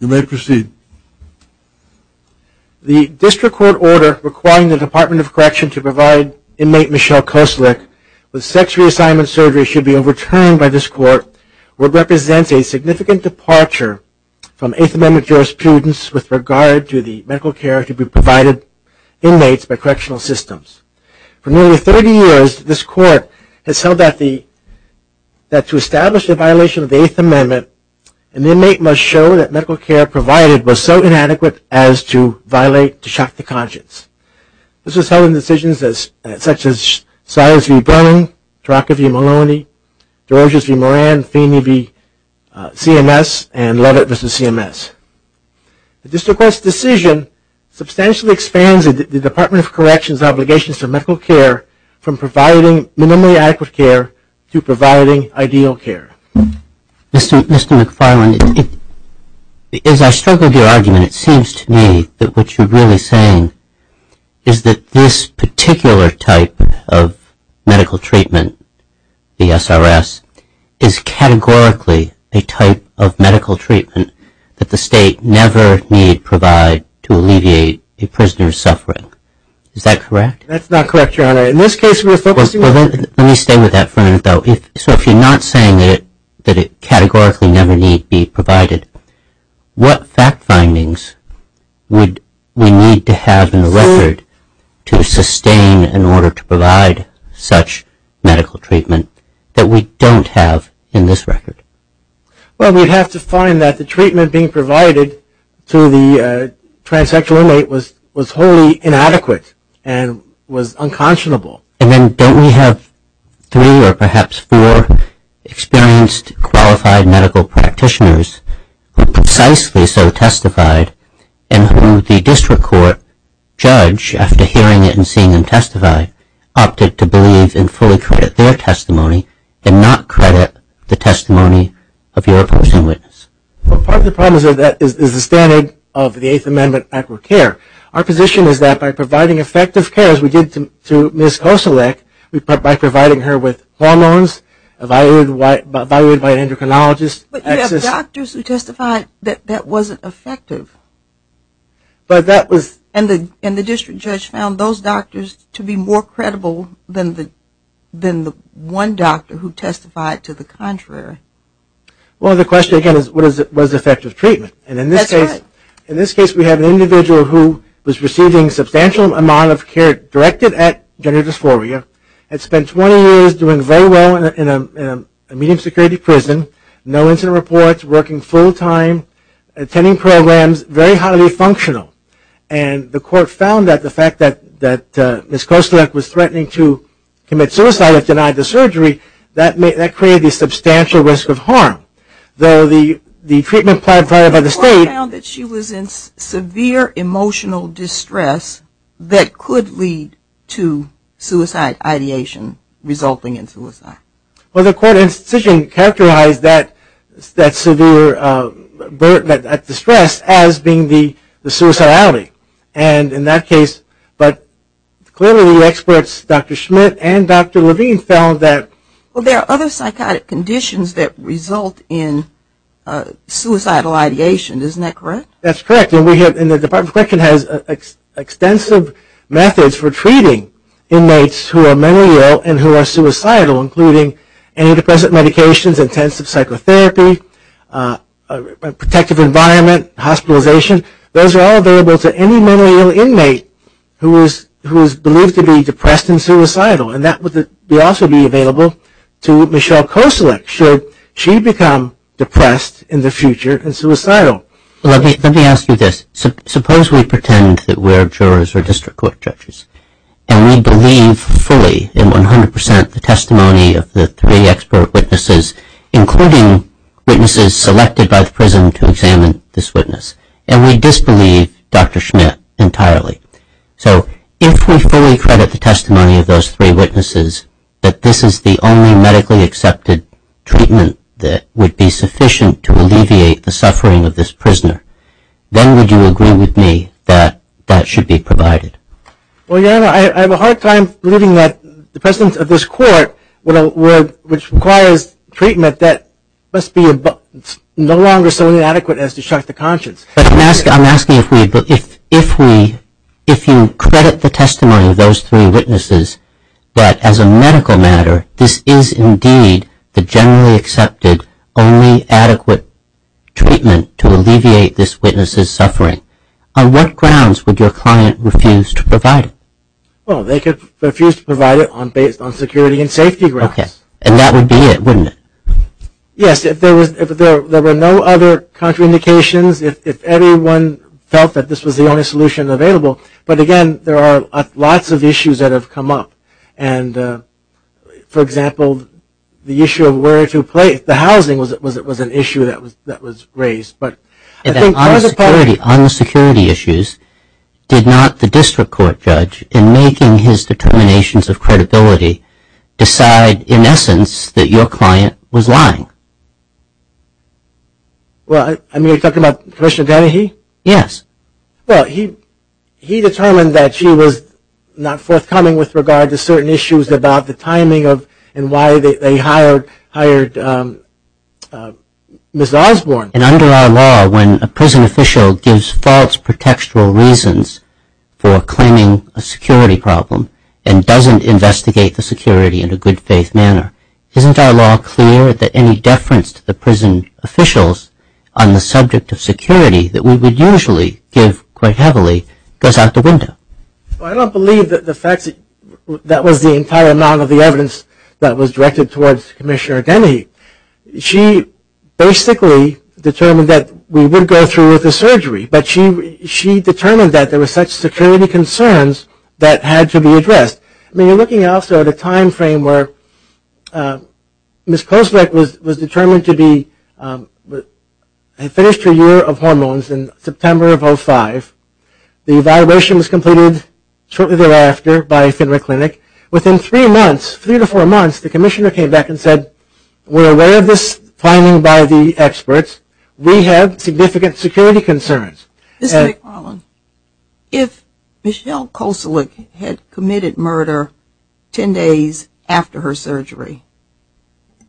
You may proceed. The district court order requiring the Department of Correction to provide inmate Michelle Kosilek with sex reassignment surgery should be overturned by this court, which represents a significant departure from Eighth Amendment jurisprudence with regard to the medical care to be provided to inmates by correctional systems. For nearly 30 years, this court has held that to establish a violation of the Eighth Amendment, an inmate must show that medical care provided was so inadequate as to violate, to shock the conscience. This is held in decisions such as Silas v. Browning, Taraka v. Maloney, Georges v. Moran, Feeney v. CMS, and Lovett v. CMS. The district court's decision substantially expands the Department of Correction's obligations to medical care from providing minimally adequate care to providing ideal care. Mr. McFarland, as I struggled with your argument, it seems to me that what you're really saying is that this particular type of medical treatment, the SRS, is categorically a type of medical treatment that the state never need provide to alleviate a prisoner's suffering. Is that correct? That's not correct, Your Honor. In this case, we're focusing on... Let me stay with that for a minute, though. So if you're not saying that it categorically never need be provided, what fact findings would we need to have in the record to sustain in order to provide such medical treatment that we don't have in this record? Well, we'd have to find that the treatment being provided to the transsexual inmate was wholly inadequate and was unconscionable. And then don't we have three or perhaps four experienced, qualified medical practitioners who precisely so testified and who the district court judge, after hearing it and seeing them testify, opted to believe and fully credit their testimony and not credit the testimony of your person witness? Well, part of the problem is that that is the standard of the Eighth Amendment for care. Our position is that by providing effective care, as we did to Ms. Kosolek, by providing her with hormones, evaluated by an endocrinologist... But you have doctors who testified that that wasn't effective. But that was... And the district judge found those doctors to be more credible than the one doctor who testified to the contrary. Well, the question again is, was effective treatment? And in this case... That's right. An individual who was receiving substantial amount of care directed at gender dysphoria had spent 20 years doing very well in a medium security prison, no incident reports, working full time, attending programs, very highly functional. And the court found that the fact that Ms. Kosolek was threatening to commit suicide if denied the surgery, that created a substantial risk of harm. Though the treatment provided by the state... Severe emotional distress that could lead to suicide ideation resulting in suicide. Well, the court in this decision characterized that severe distress as being the suicidality. And in that case... But clearly the experts, Dr. Schmidt and Dr. Levine, found that... Well, there are other psychotic conditions that result in suicidal ideation. Isn't that correct? That's correct. And the Department of Corrections has extensive methods for treating inmates who are mentally ill and who are suicidal, including antidepressant medications, intensive psychotherapy, a protective environment, hospitalization. Those are all available to any mentally ill inmate who is believed to be depressed and suicidal. And that would also be available to Michelle Kosolek should she become depressed in the future and suicidal. Let me ask you this. Suppose we pretend that we're jurors or district court judges, and we believe fully in 100 percent the testimony of the three expert witnesses, including witnesses selected by the prison to examine this witness, and we disbelieve Dr. Schmidt entirely. So if we fully credit the testimony of those three witnesses that this is the only medically accepted treatment that would be sufficient to alleviate the suffering of this prisoner, then would you agree with me that that should be provided? Well, your Honor, I have a hard time believing that the presence of this court, which requires treatment that must be no longer so inadequate as to strike the conscience. But I'm asking if we... If you credit the testimony of those three witnesses that, as a medical matter, this is indeed the generally accepted, only adequate treatment to alleviate this witness's suffering, on what grounds would your client refuse to provide it? Well, they could refuse to provide it based on security and safety grounds. Okay. And that would be it, wouldn't it? Yes. If there were no other contraindications, if everyone felt that this was the only solution available. But again, there are lots of issues that have come up. And for example, the issue of where to place the housing was an issue that was raised. But I think part of the problem... On the security issues, did not the district court judge, in making his determinations of credibility, decide, in essence, that your client was lying? Well, are you talking about Commissioner Donahue? Yes. Well, he determined that she was not forthcoming with regard to certain issues about the timing of... And why they hired Ms. Osborne. And under our law, when a prison official gives false pretextual reasons for claiming a security problem, and doesn't investigate the security in a good faith manner, isn't our law clear that any deference to the prison officials on the subject of security that we would usually give quite heavily, goes out the window? Well, I don't believe that the facts... That was the entire amount of the evidence that was directed towards Commissioner Donahue. She basically determined that we would go through with the surgery, but she determined that there were such security concerns that had to be addressed. I mean, you're looking, also, at a time frame where Ms. Kosevich was determined to be... In September of 05, the evaluation was completed shortly thereafter by Fenwick Clinic. Within three months, three to four months, the Commissioner came back and said, we're aware of this timing by the experts. We have significant security concerns. Mr. McFarland, if Michelle Kosevich had committed murder ten days after her surgery,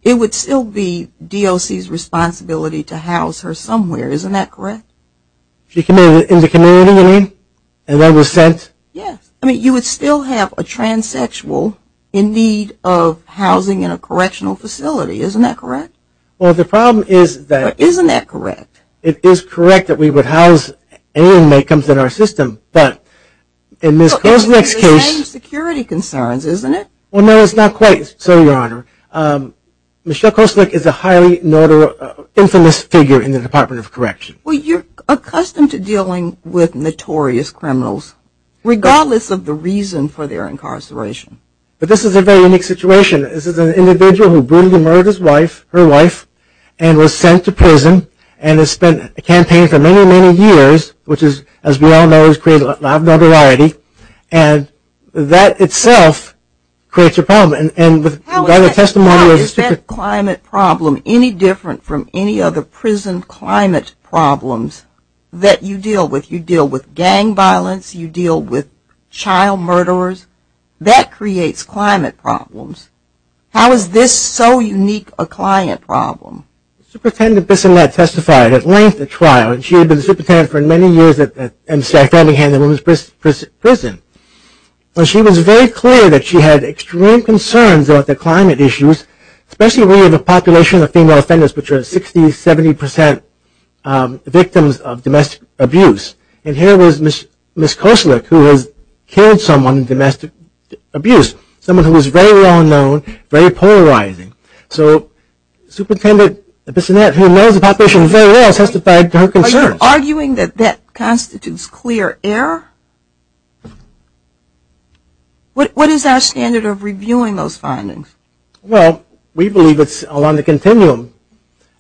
it would still be DOC's responsibility to house her somewhere. Isn't that correct? She committed it in the community, you mean? And that was sent? Yes. I mean, you would still have a transsexual in need of housing in a correctional facility. Isn't that correct? Well, the problem is that... Isn't that correct? It is correct that we would house any inmate that comes in our system, but in Ms. Kosevich's case... It's the same security concerns, isn't it? Well, no, it's not quite so, Your Honor. Michelle Kosevich is a highly infamous figure in the Department of Correction. Well, you're accustomed to dealing with notorious criminals, regardless of the reason for their incarceration. But this is a very unique situation. This is an individual who brutally murdered his wife, her wife, and was sent to prison and has spent a campaign for many, many years, which is, as we all know, has created a lot of notoriety, and that itself creates a problem. How is that climate problem any different from any other prison climate problems that you deal with? You deal with gang violence, you deal with child murderers. That creates climate problems. How is this so unique a client problem? Superintendent Bissellette testified at length at trial, and she had been the superintendent for many years at Staten Island Women's Prison, and she was very clear that she had extreme concerns about the climate issues, especially when you have a population of female offenders which are 60%, 70% victims of domestic abuse. And here was Ms. Kosevich, who has killed someone in domestic abuse, someone who is very well known, very polarizing. So Superintendent Bissellette, who knows the population very well, testified to her concerns. Are you arguing that that constitutes clear error? What is our standard of reviewing those findings? Well, we believe it's along the continuum,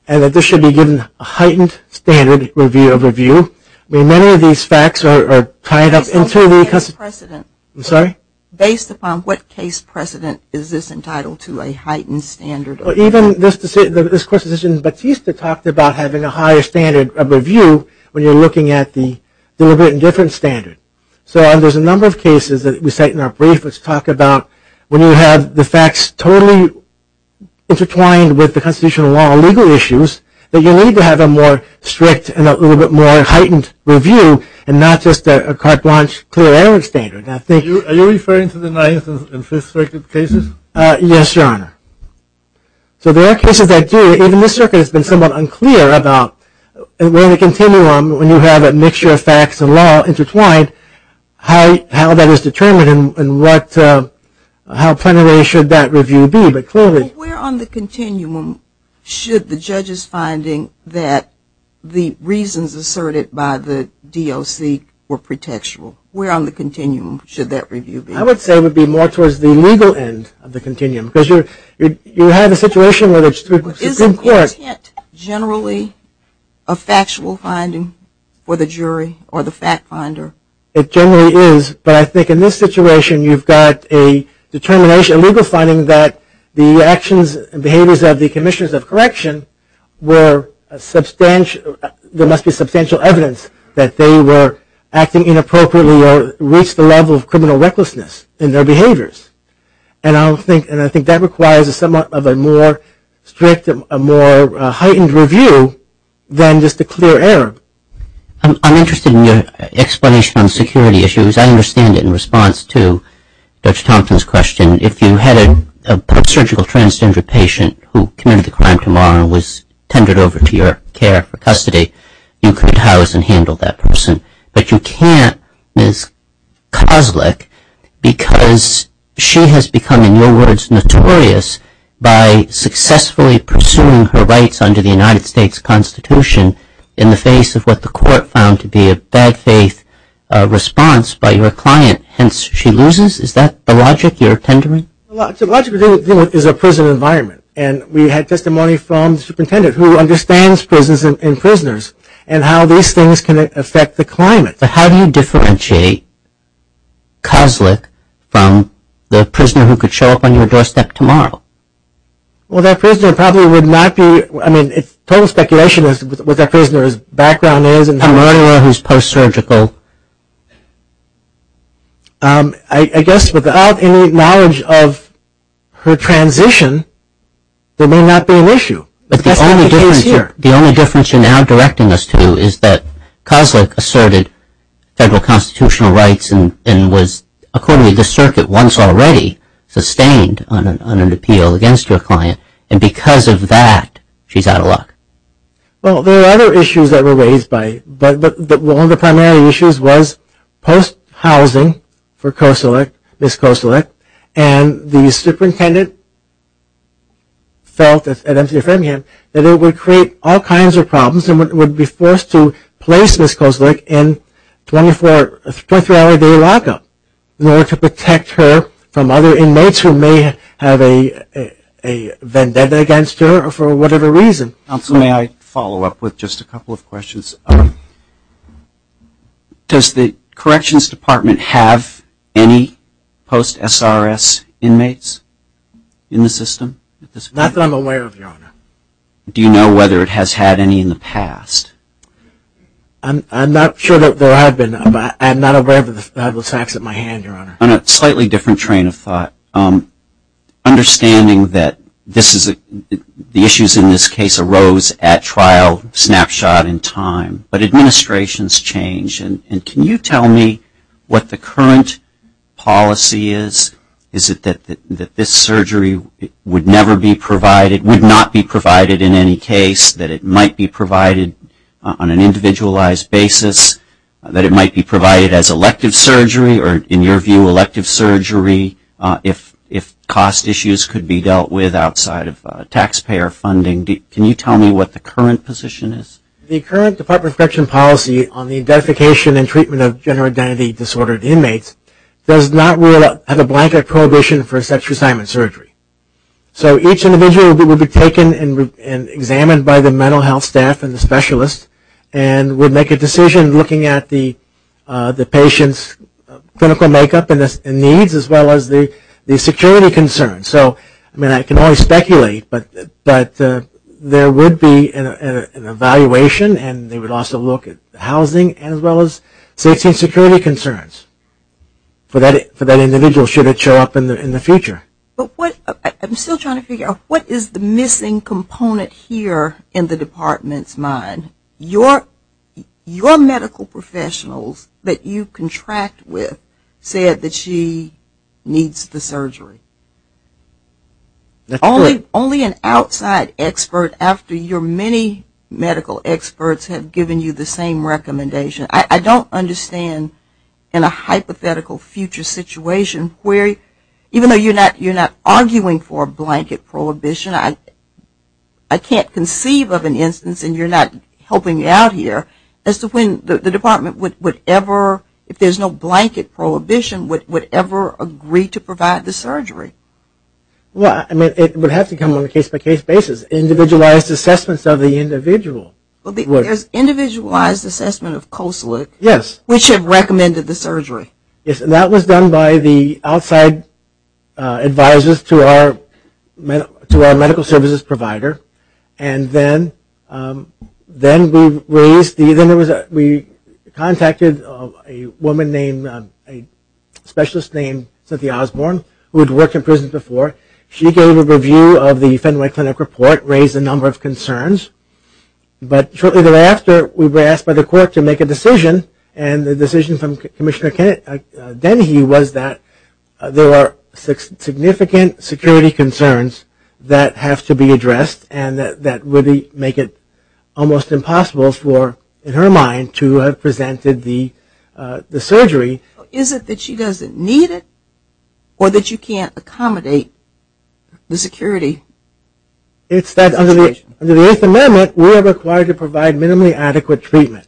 and that this should be given a heightened standard review of review. I mean, many of these facts are tied up into the case precedent. Based upon what case precedent is this entitled to a heightened standard of review? Even this court's decision, Batista talked about having a higher standard of review when you're looking at the deliberate indifference standard. So there's a number of cases that we cite in our brief which talk about when you have the facts totally intertwined with the constitutional law and legal issues, that you need to have a more strict and a little bit more heightened review, and not just a carte blanche clear error standard. Now, thank you. Are you referring to the Ninth and Fifth Circuit cases? Yes, Your Honor. So there are cases that do. Even this circuit has been somewhat unclear about where the continuum, when you have a mixture of facts and law intertwined, how that is determined and how plenary should that review be. But clearly- Well, where on the continuum should the judge's finding that the reasons asserted by the DOC were pretextual? Where on the continuum should that review be? I would say it would be more towards the legal end of the continuum, because you have a situation where the Supreme Court- But isn't intent generally a factual finding for the jury or the fact finder? It generally is. But I think in this situation, you've got a legal finding that the actions and behaviors of the Commissioners of Correction, there must be substantial evidence that they were acting inappropriately or reached the level of criminal recklessness in their behaviors. And I think that requires somewhat of a more strict, a more heightened review than just a clear error. I'm interested in your explanation on security issues. I understand it in response to Judge Thompson's question. If you had a post-surgical transgender patient who committed the crime tomorrow and was tendered over to your care for custody, you could house and handle that person. But you can't, Ms. Kozlik, because she has become, in your words, notorious by successfully pursuing her rights under the United States Constitution in the face of what the court found to be a bad faith response by your client. Hence, she loses? Is that the logic you're tendering? The logic we're dealing with is a prison environment. And we had testimony from the superintendent, who understands prisons and prisoners, and how these things can affect the climate. But how do you differentiate Kozlik from the prisoner who could show up on your doorstep tomorrow? Well, that prisoner probably would not be, I mean, total speculation is what that prisoner's background is. A murderer who's post-surgical. I guess without any knowledge of her transition, there may not be an issue. That's not the case here. The only difference you're now directing us to is that Kozlik asserted federal constitutional rights and was, according to the circuit, once already sustained on an appeal against your client. And because of that, she's out of luck. Well, there are other issues that were raised by it. But one of the primary issues was post-housing for Ms. Kozlik. And the superintendent felt, at MCF Birmingham, that it would create all kinds of problems and would be forced to place Ms. Kozlik in a 23-hour-a-day lockup in order to protect her from other inmates who may have a vendetta against her for whatever reason. Counsel, may I follow up with just a couple of questions? Does the Corrections Department have any post-SRS inmates in the system at this point? Not that I'm aware of, Your Honor. Do you know whether it has had any in the past? I'm not sure that I've been aware of the facts at my hand, Your Honor. On a slightly different train of thought, understanding that the issues in this case arose at trial snapshot in time. But administrations change. And can you tell me what the current policy is? Is it that this surgery would never be provided, would not be provided in any case, that it might be provided on an individualized basis, that it might be provided as elective surgery or, in your view, elective surgery if cost issues could be dealt with outside of taxpayer funding? Can you tell me what the current position is? The current Department of Corrections policy on the identification and treatment of gender identity disordered inmates does not have a blanket prohibition for a sex reassignment surgery. So each individual would be taken and examined by the mental health staff and the specialist and would make a decision looking at the patient's clinical makeup and needs as well as the security concerns. So, I mean, I can only speculate, but there would be an evaluation and they would also look at housing as well as safety and security concerns for that individual should it show up in the future. But what, I'm still trying to figure out, what is the missing component here in the Department's mind? And your medical professionals that you contract with said that she needs the surgery. Only an outside expert after your many medical experts have given you the same recommendation. I don't understand in a hypothetical future situation where, even though you're not arguing for a blanket prohibition, I can't conceive of an instance, and you're not helping me out here, as to when the Department would ever, if there's no blanket prohibition, would ever agree to provide the surgery. Well, I mean, it would have to come on a case-by-case basis. Individualized assessments of the individual would. There's individualized assessment of COSLIC which had recommended the surgery. That was done by the outside advisors to our medical services provider. And then we contacted a woman named, a specialist named Cynthia Osborne, who had worked in prison before. She gave a review of the Fenway Clinic report, raised a number of concerns. But shortly thereafter, we were asked by the court to make a decision, and the decision from Commissioner Dennehy was that there are significant security concerns that have to be addressed, and that would make it almost impossible for, in her mind, to have presented the surgery. Is it that she doesn't need it, or that you can't accommodate the security situation? It's that under the Eighth Amendment, we are required to provide minimally adequate treatment.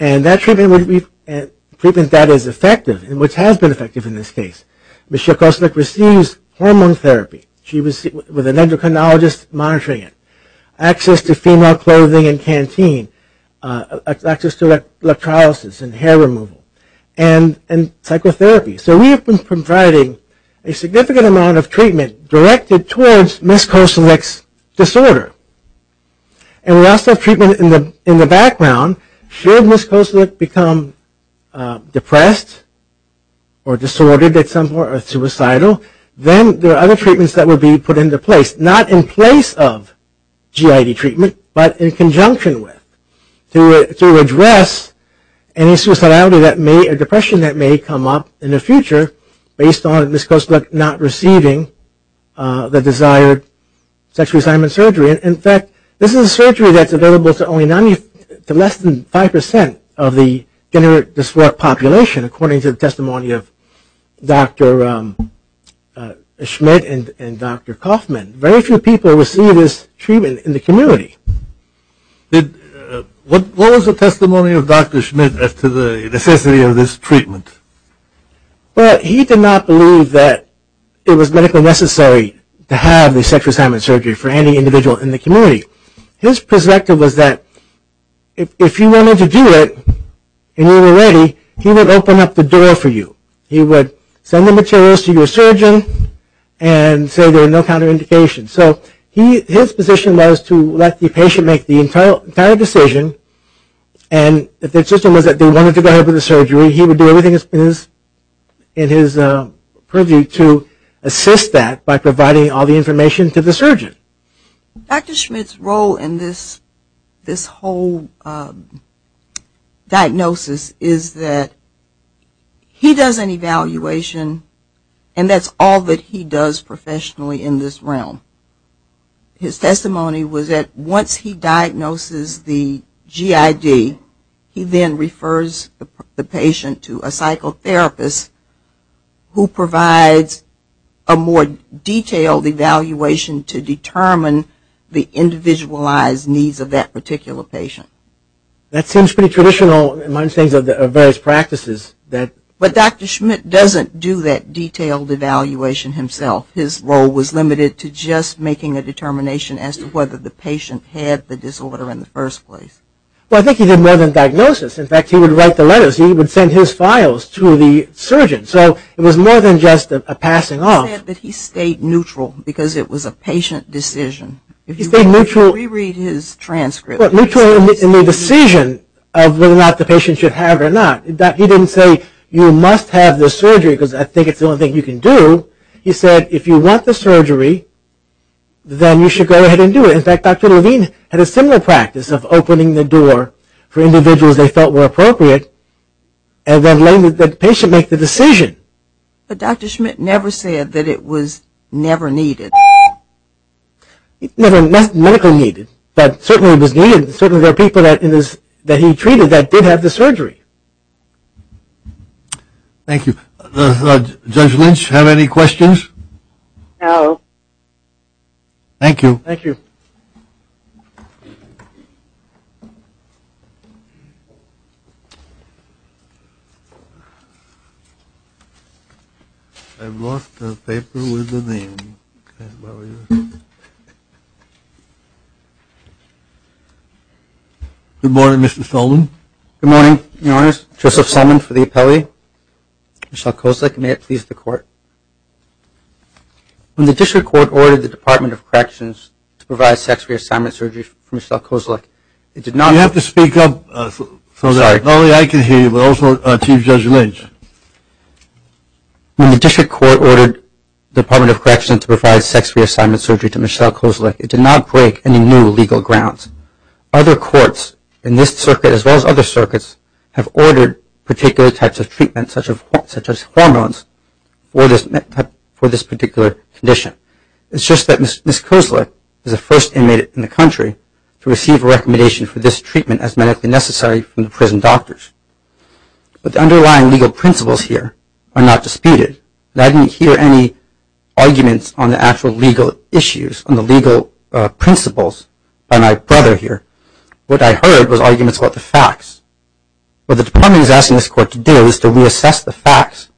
And that treatment would be a treatment that is effective, and which has been effective in this case. Ms. Kosilek receives hormone therapy. She was with an endocrinologist monitoring it. Access to female clothing and canteen, access to electrolysis and hair removal, and psychotherapy. So we have been providing a significant amount of treatment directed towards Ms. Kosilek's disorder. And we also have treatment in the background. Should Ms. Kosilek become depressed or disordered at some point, or suicidal, then there are other treatments that would be put into place. Not in place of GID treatment, but in conjunction with, to address any suicidality or depression that may come up in the future based on Ms. Kosilek not receiving the desired sexual assignment surgery. And in fact, this is a surgery that's available to less than 5% of the gender dysphoric population, according to the testimony of Dr. Schmidt and Dr. Kaufman. Very few people receive this treatment in the community. What was the testimony of Dr. Schmidt as to the necessity of this treatment? Well he did not believe that it was medically necessary to have the sexual assignment surgery for any individual in the community. His perspective was that if you wanted to do it, and you were ready, he would open up the door for you. He would send the materials to your surgeon and say there are no counterindications. So his position was to let the patient make the entire decision, and if their system was that they wanted to go ahead with the surgery, he would do everything in his purview to assist that by providing all the information to the surgeon. Dr. Schmidt's role in this whole diagnosis is that he does an evaluation, and that's all that he does professionally in this realm. His testimony was that once he diagnoses the GID, he then refers the patient to a psychotherapist who provides a more detailed evaluation to determine the individualized needs of that particular patient. That seems pretty traditional in my understanding of various practices. But Dr. Schmidt doesn't do that detailed evaluation himself. His role was limited to just making a determination as to whether the patient had the disorder in the first place. Well I think he did more than diagnosis. In fact, he would write the letters. He would send his files to the surgeon. So it was more than just a passing off. He said that he stayed neutral because it was a patient decision. He stayed neutral. If you reread his transcript. But neutral in the decision of whether or not the patient should have it or not. He didn't say you must have the surgery because I think it's the only thing you can do. He said if you want the surgery, then you should go ahead and do it. In fact, Dr. Levine had a similar practice of opening the door for individuals they felt were appropriate and then letting the patient make the decision. But Dr. Schmidt never said that it was never needed. It was never medically needed. But certainly it was needed. Certainly there are people that he treated that did have the surgery. Thank you. Judge Lynch, have any questions? No. Thank you. I've lost the paper with the name. Good morning, Mr. Sullivan. Good morning, your honors. Joseph Sullivan for the appellate. Michelle Kozak. May it please the court. When the district court ordered the Department of Corrections to provide sex reassignment surgery for Michelle Kozak, it did not break any new legal grounds. Other courts in this circuit, as well as other circuits, have ordered particular types of for this particular condition. It's just that Ms. Kozak is the first inmate in the country to receive a recommendation for this treatment as medically necessary from the prison doctors. But the underlying legal principles here are not disputed, and I didn't hear any arguments on the actual legal issues, on the legal principles by my brother here. What I heard was arguments about the facts. What the department is asking this court to do is to reassess the facts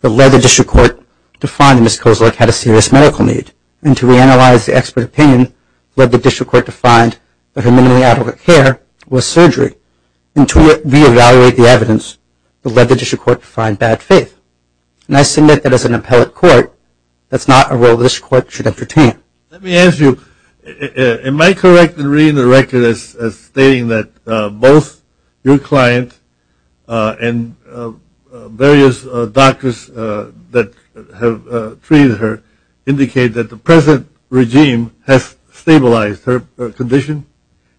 that led the district court to find that Ms. Kozak had a serious medical need, and to reanalyze the expert opinion that led the district court to find that her minimally adequate care was surgery, and to re-evaluate the evidence that led the district court to find bad faith. And I submit that as an appellate court, that's not a role the district court should entertain. Let me ask you, am I correct in reading the record as stating that both your client and various doctors that have treated her indicate that the present regime has stabilized her condition?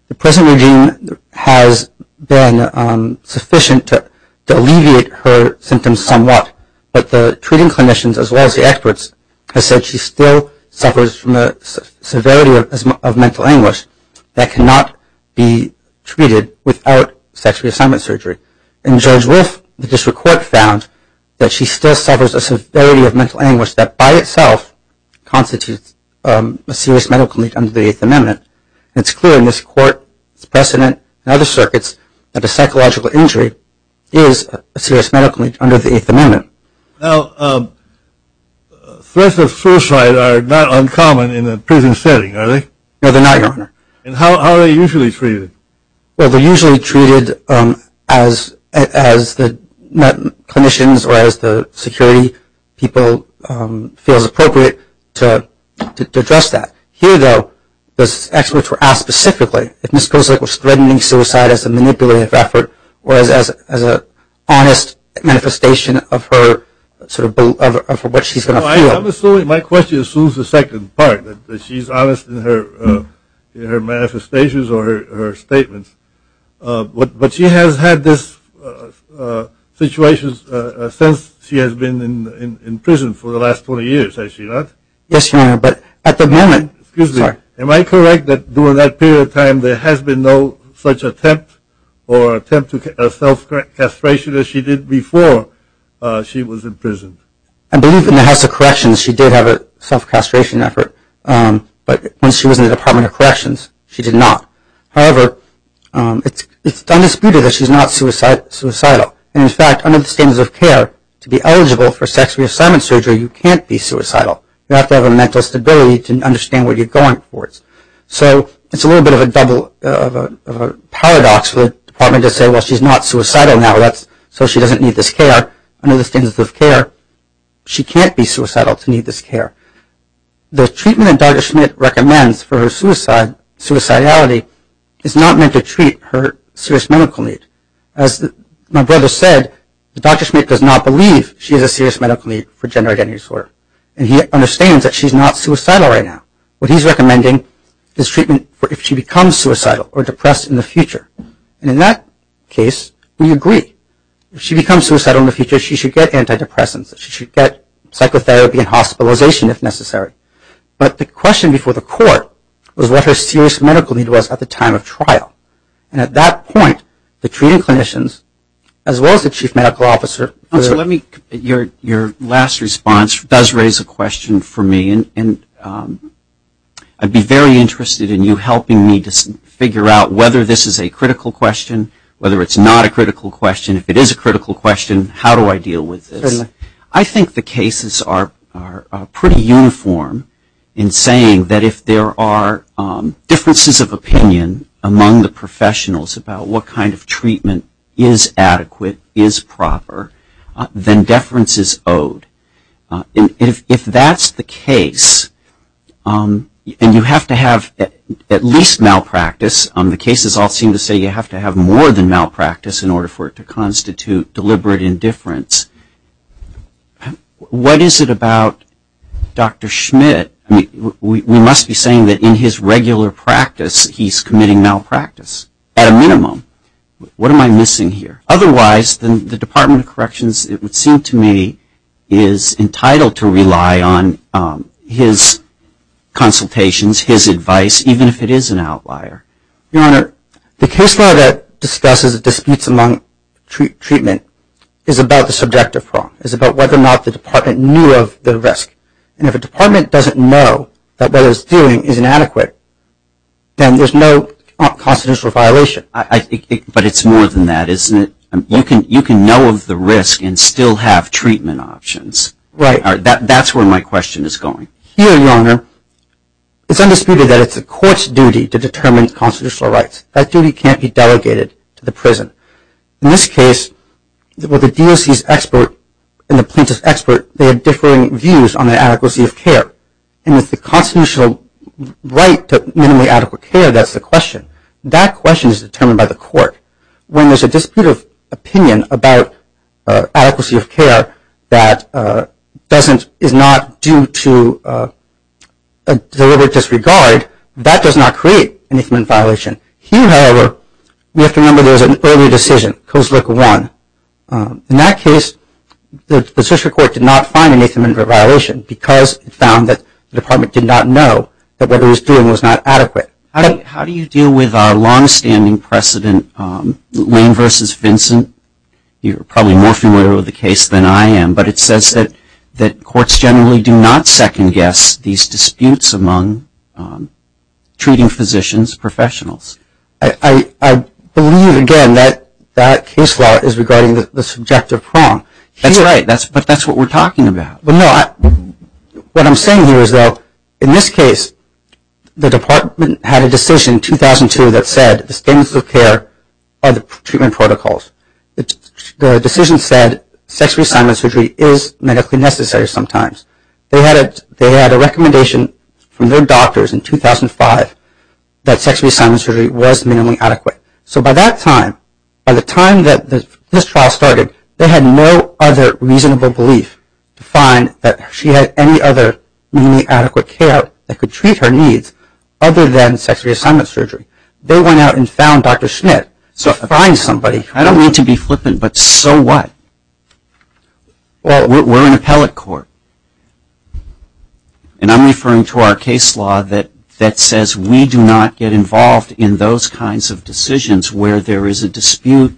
The present regime has been sufficient to alleviate her symptoms somewhat, but the treating clinicians as well as the experts have said she still suffers from a severity of mental anguish that cannot be treated without sex reassignment surgery. And Judge Wolf, the district court found that she still suffers a severity of mental anguish that by itself constitutes a serious medical need under the Eighth Amendment. It's clear in this court's precedent and other circuits that a psychological injury is a serious medical need under the Eighth Amendment. Now, threats of suicide are not uncommon in a prison setting, are they? No, they're not, Your Honor. And how are they usually treated? Well, they're usually treated as the clinicians or as the security people feel is appropriate to address that. Here, though, the experts were asked specifically if Ms. Kozlick was threatening suicide as a manipulative effort or as an honest manifestation of what she's going to feel. My question assumes the second part, that she's honest in her manifestations or her statements. But she has had this situation since she has been in prison for the last 20 years, has she not? Yes, Your Honor, but at the moment, sorry. Am I correct that during that period of time, there has been no such attempt or attempt to self-castration as she did before she was in prison? I believe in the House of Corrections, she did have a self-castration effort. But when she was in the Department of Corrections, she did not. However, it's undisputed that she's not suicidal. And in fact, under the standards of care, to be eligible for sex reassignment surgery, you can't be suicidal. You have to have a mental stability to understand what you're going towards. So it's a little bit of a paradox for the department to say, well, she's not suicidal now, so she doesn't need this care. Under the standards of care, she can't be suicidal to need this care. The treatment that Dr. Schmidt recommends for her suicidality is not meant to treat her serious medical need. As my brother said, Dr. Schmidt does not believe she has a serious medical need for gender identity disorder. And he understands that she's not suicidal right now. What he's recommending is treatment for if she becomes suicidal or depressed in the future. And in that case, we agree. If she becomes suicidal in the future, she should get antidepressants. She should get psychotherapy and hospitalization if necessary. But the question before the court was what her serious medical need was at the time of trial. And at that point, the treating clinicians, as well as the chief medical officer, So let me, your last response does raise a question for me. And I'd be very interested in you helping me to figure out whether this is a critical question, whether it's not a critical question. If it is a critical question, how do I deal with this? I think the cases are pretty uniform in saying that if there are differences of opinion among the professionals about what kind of treatment is adequate, is proper, then deference is owed. And if that's the case, and you have to have at least malpractice. The cases all seem to say you have to have more than malpractice in order for it to constitute deliberate indifference. What is it about Dr. Schmidt? I mean, we must be saying that in his regular practice, he's committing malpractice at a minimum. What am I missing here? Otherwise, the Department of Corrections, it would seem to me, is entitled to rely on his consultations, his advice, even if it is an outlier. Your Honor, the case law that discusses disputes among treatment is about the subjective problem. It's about whether or not the Department knew of the risk. And if a department doesn't know that what it's doing is inadequate, then there's no constitutional violation. But it's more than that, isn't it? You can know of the risk and still have treatment options. Right. That's where my question is going. Here, Your Honor, it's undisputed that it's the court's duty to determine constitutional rights. That duty can't be delegated to the prison. In this case, with the DOC's expert and the plaintiff's expert, they had differing views on the adequacy of care. And it's the constitutional right to minimally adequate care that's the question. That question is determined by the court. When there's a dispute of opinion about adequacy of care that is not due to a deliberate disregard, that does not create an infinite violation. Here, however, we have to remember there was an earlier decision, Coase Look 1. In that case, the district court did not find an infinite violation because it found that the department did not know that what it was doing was not adequate. How do you deal with our longstanding precedent, Lane versus Vincent? You're probably more familiar with the case than I am. But it says that courts generally do not second guess these disputes among treating physicians, professionals. I believe, again, that that case law is regarding the subjective prong. That's right, but that's what we're talking about. But no, what I'm saying here is, though, in this case, the department had a decision in 2002 that said the statements of care are the treatment protocols. The decision said sex reassignment surgery is medically necessary sometimes. They had a recommendation from their doctors in 2005 that sex reassignment surgery was minimally adequate. So by that time, by the time that this trial started, they had no other reasonable belief to find that she had any other minimally adequate care that could treat her needs other than sex reassignment surgery. They went out and found Dr. Schnitt. So find somebody. I don't mean to be flippant, but so what? Well, we're an appellate court. And I'm referring to our case law that says we do not get involved in those kinds of decisions where there is a dispute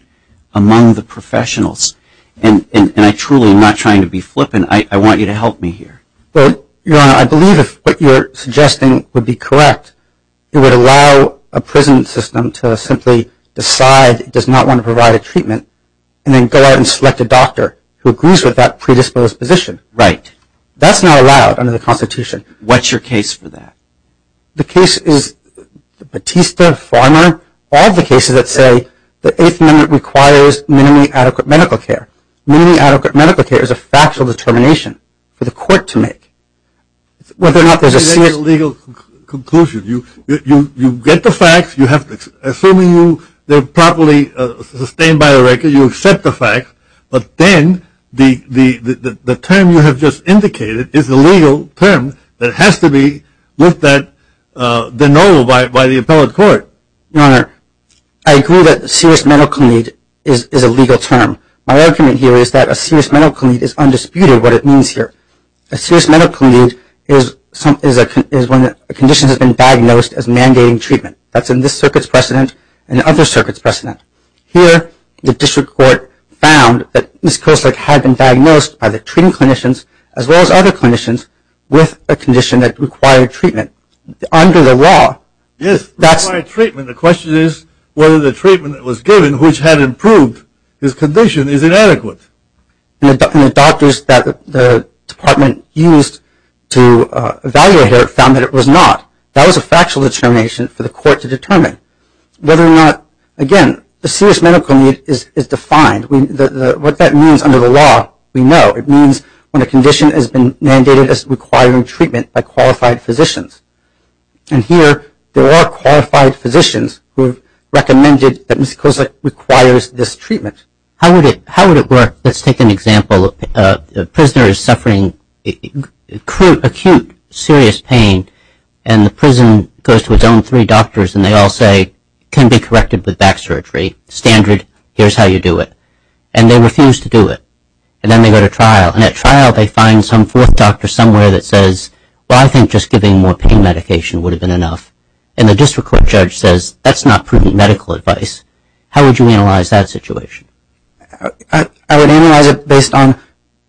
among the professionals. And I truly am not trying to be flippant. I want you to help me here. But, Your Honor, I believe if what you're suggesting would be correct, it would allow a prison system to simply decide it does not want to provide a treatment and then go out and select a doctor who agrees with that predisposed position. Right. That's not allowed under the Constitution. What's your case for that? The case is Batista, Farmer. All the cases that say the Eighth Amendment requires minimally adequate medical care. Minimally adequate medical care is a factual determination for the court to make. Whether or not there's a serious legal conclusion. You get the facts. You have, assuming they're properly sustained by the record, you accept the facts. But then the term you have just indicated is a legal term that has to be with that, the know by the appellate court. Your Honor, I agree that serious medical need is a legal term. My argument here is that a serious medical need is undisputed what it means here. A serious medical need is when a condition has been diagnosed as mandating treatment. That's in this circuit's precedent and other circuits precedent. Here, the district court found that Ms. Koestler had been diagnosed by the treating clinicians as well as other clinicians with a condition that required treatment under the law. Yes, required treatment. The question is whether the treatment that was given, which had improved his condition, is inadequate. And the doctors that the department used to evaluate her found that it was not. That was a factual determination for the court to determine. Whether or not, again, a serious medical need is defined. What that means under the law, we know. It means when a condition has been mandated as requiring treatment by qualified physicians. And here, there are qualified physicians who have recommended that Ms. Koestler requires this treatment. How would it work? Let's take an example. A prisoner is suffering acute, serious pain, and the prison goes to its own three doctors, and they all say, can be corrected with back surgery. Standard, here's how you do it. And they refuse to do it. And then they go to trial. And at trial, they find some fourth doctor somewhere that says, well, I think just giving more pain medication would have been enough. And the district court judge says, that's not prudent medical advice. How would you analyze that situation? I would analyze it based on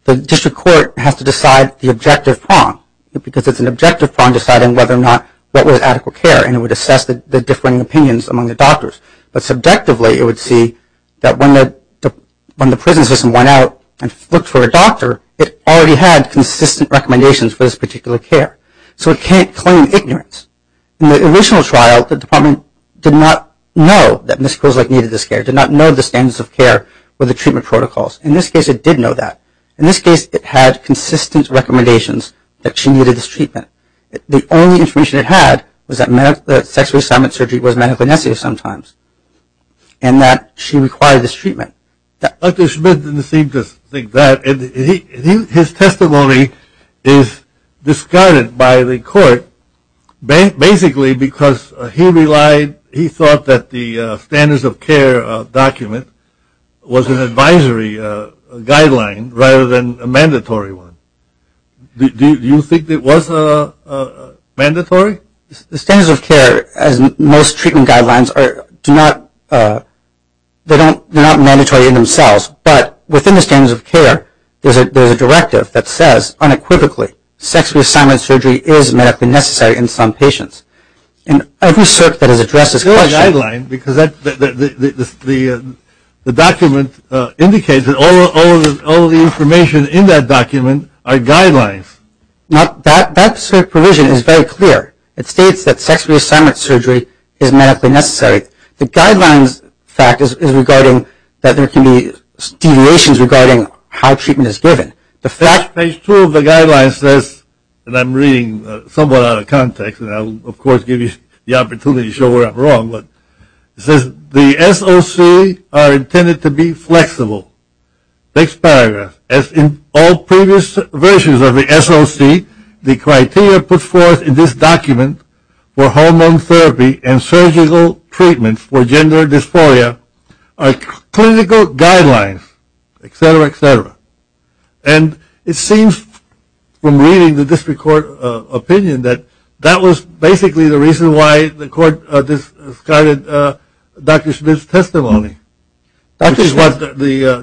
the district court has to decide the objective prong, because it's an objective prong deciding whether or not what was adequate care. And it would assess the differing opinions among the doctors. But subjectively, it would see that when the prison system went out and looked for a doctor, it already had consistent recommendations for this particular care. So it can't claim ignorance. In the original trial, the department did not know that Ms. Koestler needed this care, did not know the standards of care with the treatment protocols. In this case, it did know that. In this case, it had consistent recommendations that she needed this treatment. The only information it had was that sex reassignment surgery was medically necessary sometimes, and that she required this treatment. Dr. Schmidt didn't seem to think that. And his testimony is discarded by the court, basically because he thought that the standards of care document was an advisory guideline rather than a mandatory one. Do you think it was mandatory? The standards of care, as most treatment guidelines, do not – they're not mandatory in themselves. But within the standards of care, there's a directive that says unequivocally, sex reassignment surgery is medically necessary in some patients. And every cert that has addressed this question – It's not a guideline, because the document indicates that all of the information in that document are guidelines. Now, that cert provision is very clear. It states that sex reassignment surgery is medically necessary. The guidelines fact is regarding that there can be deviations regarding how treatment is given. The fact – Page 2 of the guidelines says – and I'm reading somewhat out of context, and I'll, of course, give you the opportunity to show where I'm wrong, but it says the SOC are intended to be flexible. Next paragraph. As in all previous versions of the SOC, the criteria put forth in this document for hormone therapy and surgical treatments for gender dysphoria are clinical guidelines, et cetera, et cetera. And it seems, from reading the district court opinion, that that was basically the reason why the court discarded Dr. Smith's testimony. Which is what the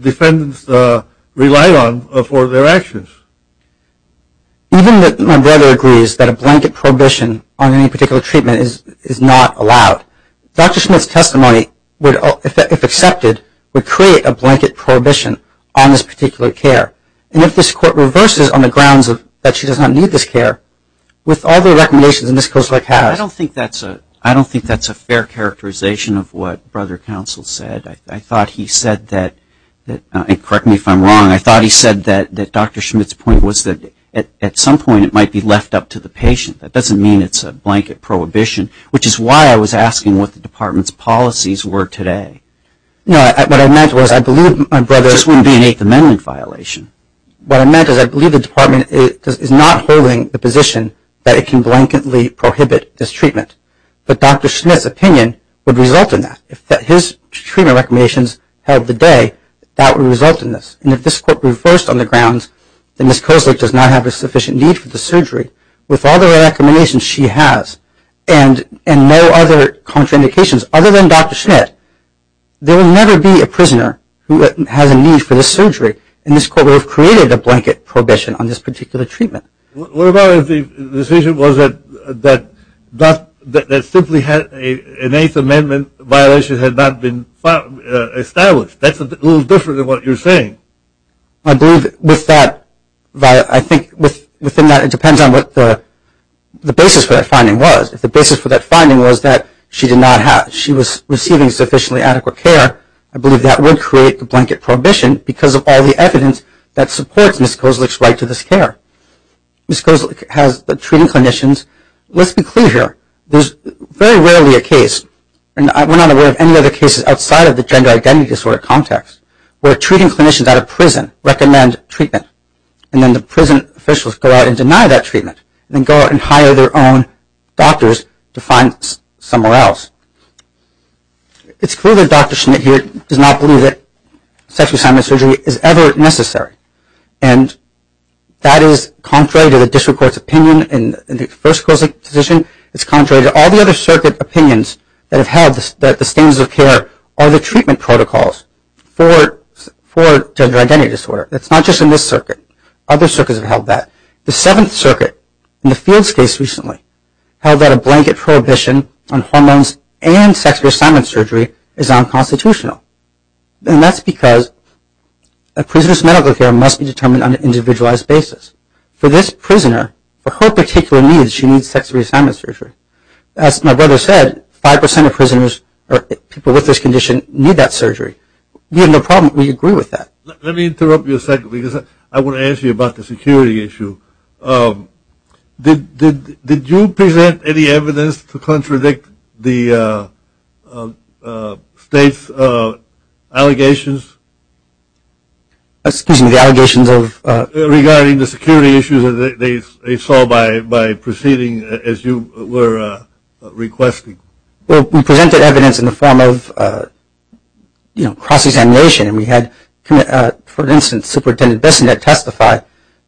defendants relied on for their actions. Even that my brother agrees that a blanket prohibition on any particular treatment is not allowed, Dr. Smith's testimony, if accepted, would create a blanket prohibition on this particular care. And if this court reverses on the grounds that she does not need this care, with all the recommendations in this case – I don't think that's a fair characterization of what Brother Counsel said. I thought he said that – and correct me if I'm wrong – I thought he said that Dr. Smith's point was that at some point it might be left up to the patient. That doesn't mean it's a blanket prohibition, which is why I was asking what the department's policies were today. No, what I meant was I believe my brother – It just wouldn't be an Eighth Amendment violation. What I meant is I believe the department is not holding the position that it can blanketly prohibit this treatment. But Dr. Smith's opinion would result in that. If his treatment recommendations held the day, that would result in this. And if this court reversed on the grounds that Ms. Kozlik does not have a sufficient need for the surgery, with all the recommendations she has and no other contraindications other than Dr. Smith, there will never be a prisoner who has a need for this surgery. And this court would have created a blanket prohibition on this particular treatment. What about if the decision was that simply an Eighth Amendment violation had not been established? That's a little different than what you're saying. I believe with that – I think within that it depends on what the basis for that finding was. If the basis for that finding was that she did not have – she was receiving sufficiently adequate care, I believe that would create the blanket prohibition because of all the evidence that supports Ms. Kozlik's right to this care. Ms. Kozlik has treating clinicians. Let's be clear here. There's very rarely a case, and we're not aware of any other cases outside of the gender identity disorder context, where treating clinicians at a prison recommend treatment. And then the prison officials go out and deny that treatment, and then go out and hire their own doctors to find somewhere else. It's clear that Dr. Schnitt here does not believe that sex reassignment surgery is ever necessary. And that is contrary to the district court's opinion in the first Kozlik decision. It's contrary to all the other circuit opinions that have held that the standards of care are the treatment protocols for gender identity disorder. It's not just in this circuit. Other circuits have held that. The Seventh Circuit, in the Fields case recently, held that a blanket prohibition on hormones and sex reassignment surgery is unconstitutional. And that's because a prisoner's medical care must be determined on an individualized basis. For this prisoner, for her particular needs, she needs sex reassignment surgery. As my brother said, 5% of prisoners or people with this condition need that surgery. We have no problem. We agree with that. Let me interrupt you a second because I want to ask you about the security issue. Did you present any evidence to contradict the state's allegations? Excuse me, the allegations of? Regarding the security issues that they saw by proceeding as you were requesting. Well, we presented evidence in the form of, you know, cross-examination. And we had, for instance, Superintendent Bissonnette testify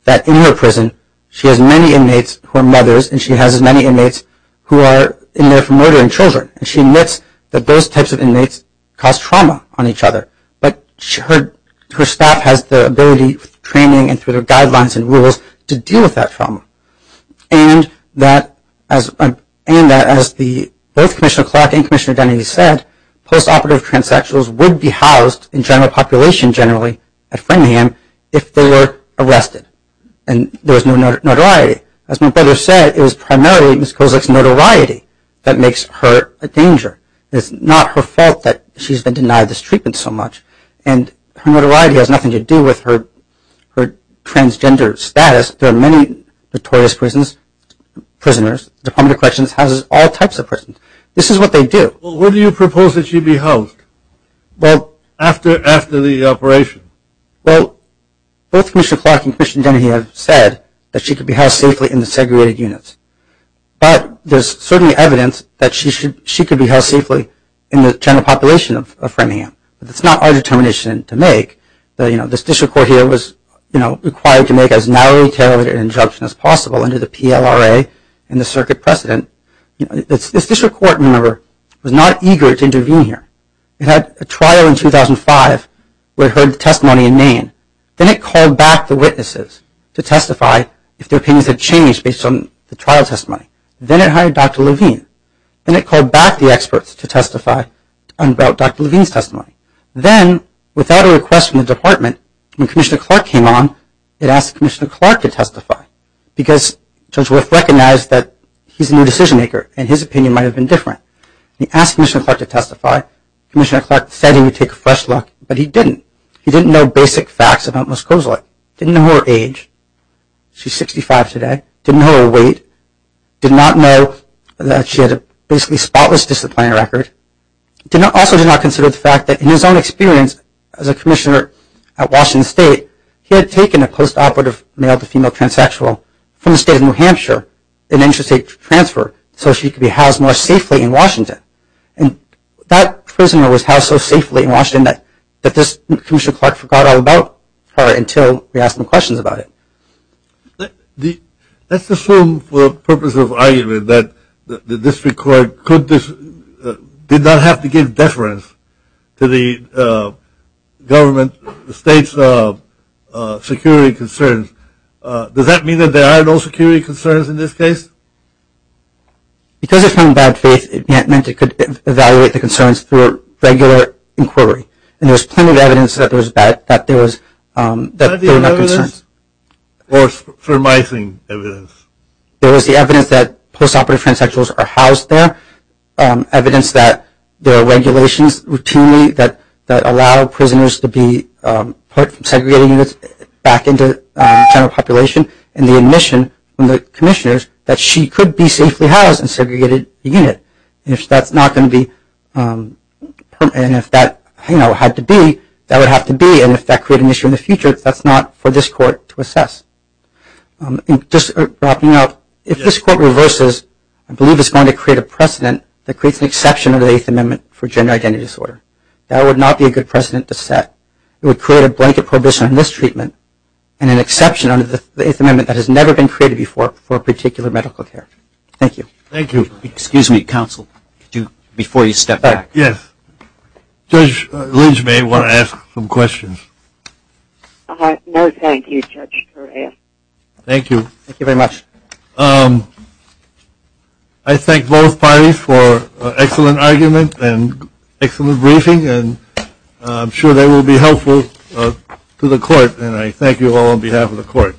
that in her prison, she has many inmates who are mothers and she has many inmates who are in there for murdering children. And she admits that those types of inmates cause trauma on each other. But her staff has the ability, with training and through their guidelines and rules, to deal with that trauma. And that, as both Commissioner Clark and Commissioner Denny said, post-operative transsexuals would be housed in general population generally at Framingham if they were arrested and there was no notoriety. As my brother said, it was primarily Ms. Kozak's notoriety that makes her a danger. It's not her fault that she's been denied this treatment so much. And her notoriety has nothing to do with her transgender status. There are many notorious prisons, prisoners, Department of Corrections houses all types of prisons. This is what they do. Well, when do you propose that she be housed after the operation? Well, both Commissioner Clark and Commissioner Denny have said that she could be housed safely in the segregated units. But there's certainly evidence that she could be housed safely in the general population of Framingham. But that's not our determination to make. This district court here was required to make as narrowly tailored an injunction as possible under the PLRA and the circuit precedent. This district court, remember, was not eager to intervene here. It had a trial in 2005 where it heard the testimony in Maine. Then it called back the witnesses to testify if their opinions had changed based on the trial testimony. Then it hired Dr. Levine. Then it called back the experts to testify about Dr. Levine's testimony. Then, without a request from the department, when Commissioner Clark came on, it asked Commissioner Clark to testify. Because Judge Wolf recognized that he's a new decision maker and his opinion might have been different. He asked Commissioner Clark to testify. Commissioner Clark said he would take a fresh look, but he didn't. He didn't know basic facts about Ms. Kozolat. Didn't know her age. She's 65 today. Didn't know her weight. Did not know that she had a basically spotless disciplinary record. Also did not consider the fact that, in his own experience as a commissioner at Washington State, he had taken a post-operative male-to-female transsexual from the state of New Hampshire in an interstate transfer so she could be housed more safely in Washington. And that prisoner was housed so safely in Washington that this Commissioner Clark forgot all about her until we asked him questions about it. Let's assume, for the purpose of argument, that the district court did not have to give deference to the government, the state's security concerns. Does that mean that there are no security concerns in this case? Because it's from bad faith, it meant it could evaluate the concerns through a regular inquiry. And there was plenty of evidence that there was bad, that there was, that there were no concerns. Or surmising evidence. There was the evidence that post-operative transsexuals are housed there. Evidence that there are regulations routinely that allow prisoners to be put from segregated units back into the general population. And the admission from the commissioners that she could be safely housed in a segregated unit. If that's not going to be, and if that had to be, that would have to be. And if that created an issue in the future, that's not for this court to assess. Just wrapping up, if this court reverses, I believe it's going to create a precedent that creates an exception under the Eighth Amendment for gender identity disorder. That would not be a good precedent to set. It would create a blanket prohibition on this treatment, and an exception under the Eighth Amendment that has never been created before for a particular medical care. Thank you. Thank you. Excuse me, counsel, before you step back. Yes. Judge Lynch may want to ask some questions. No, thank you, Judge Correa. Thank you. Thank you very much. I thank both parties for excellent argument and excellent briefing. And I'm sure they will be helpful to the court. And I thank you all on behalf of the court.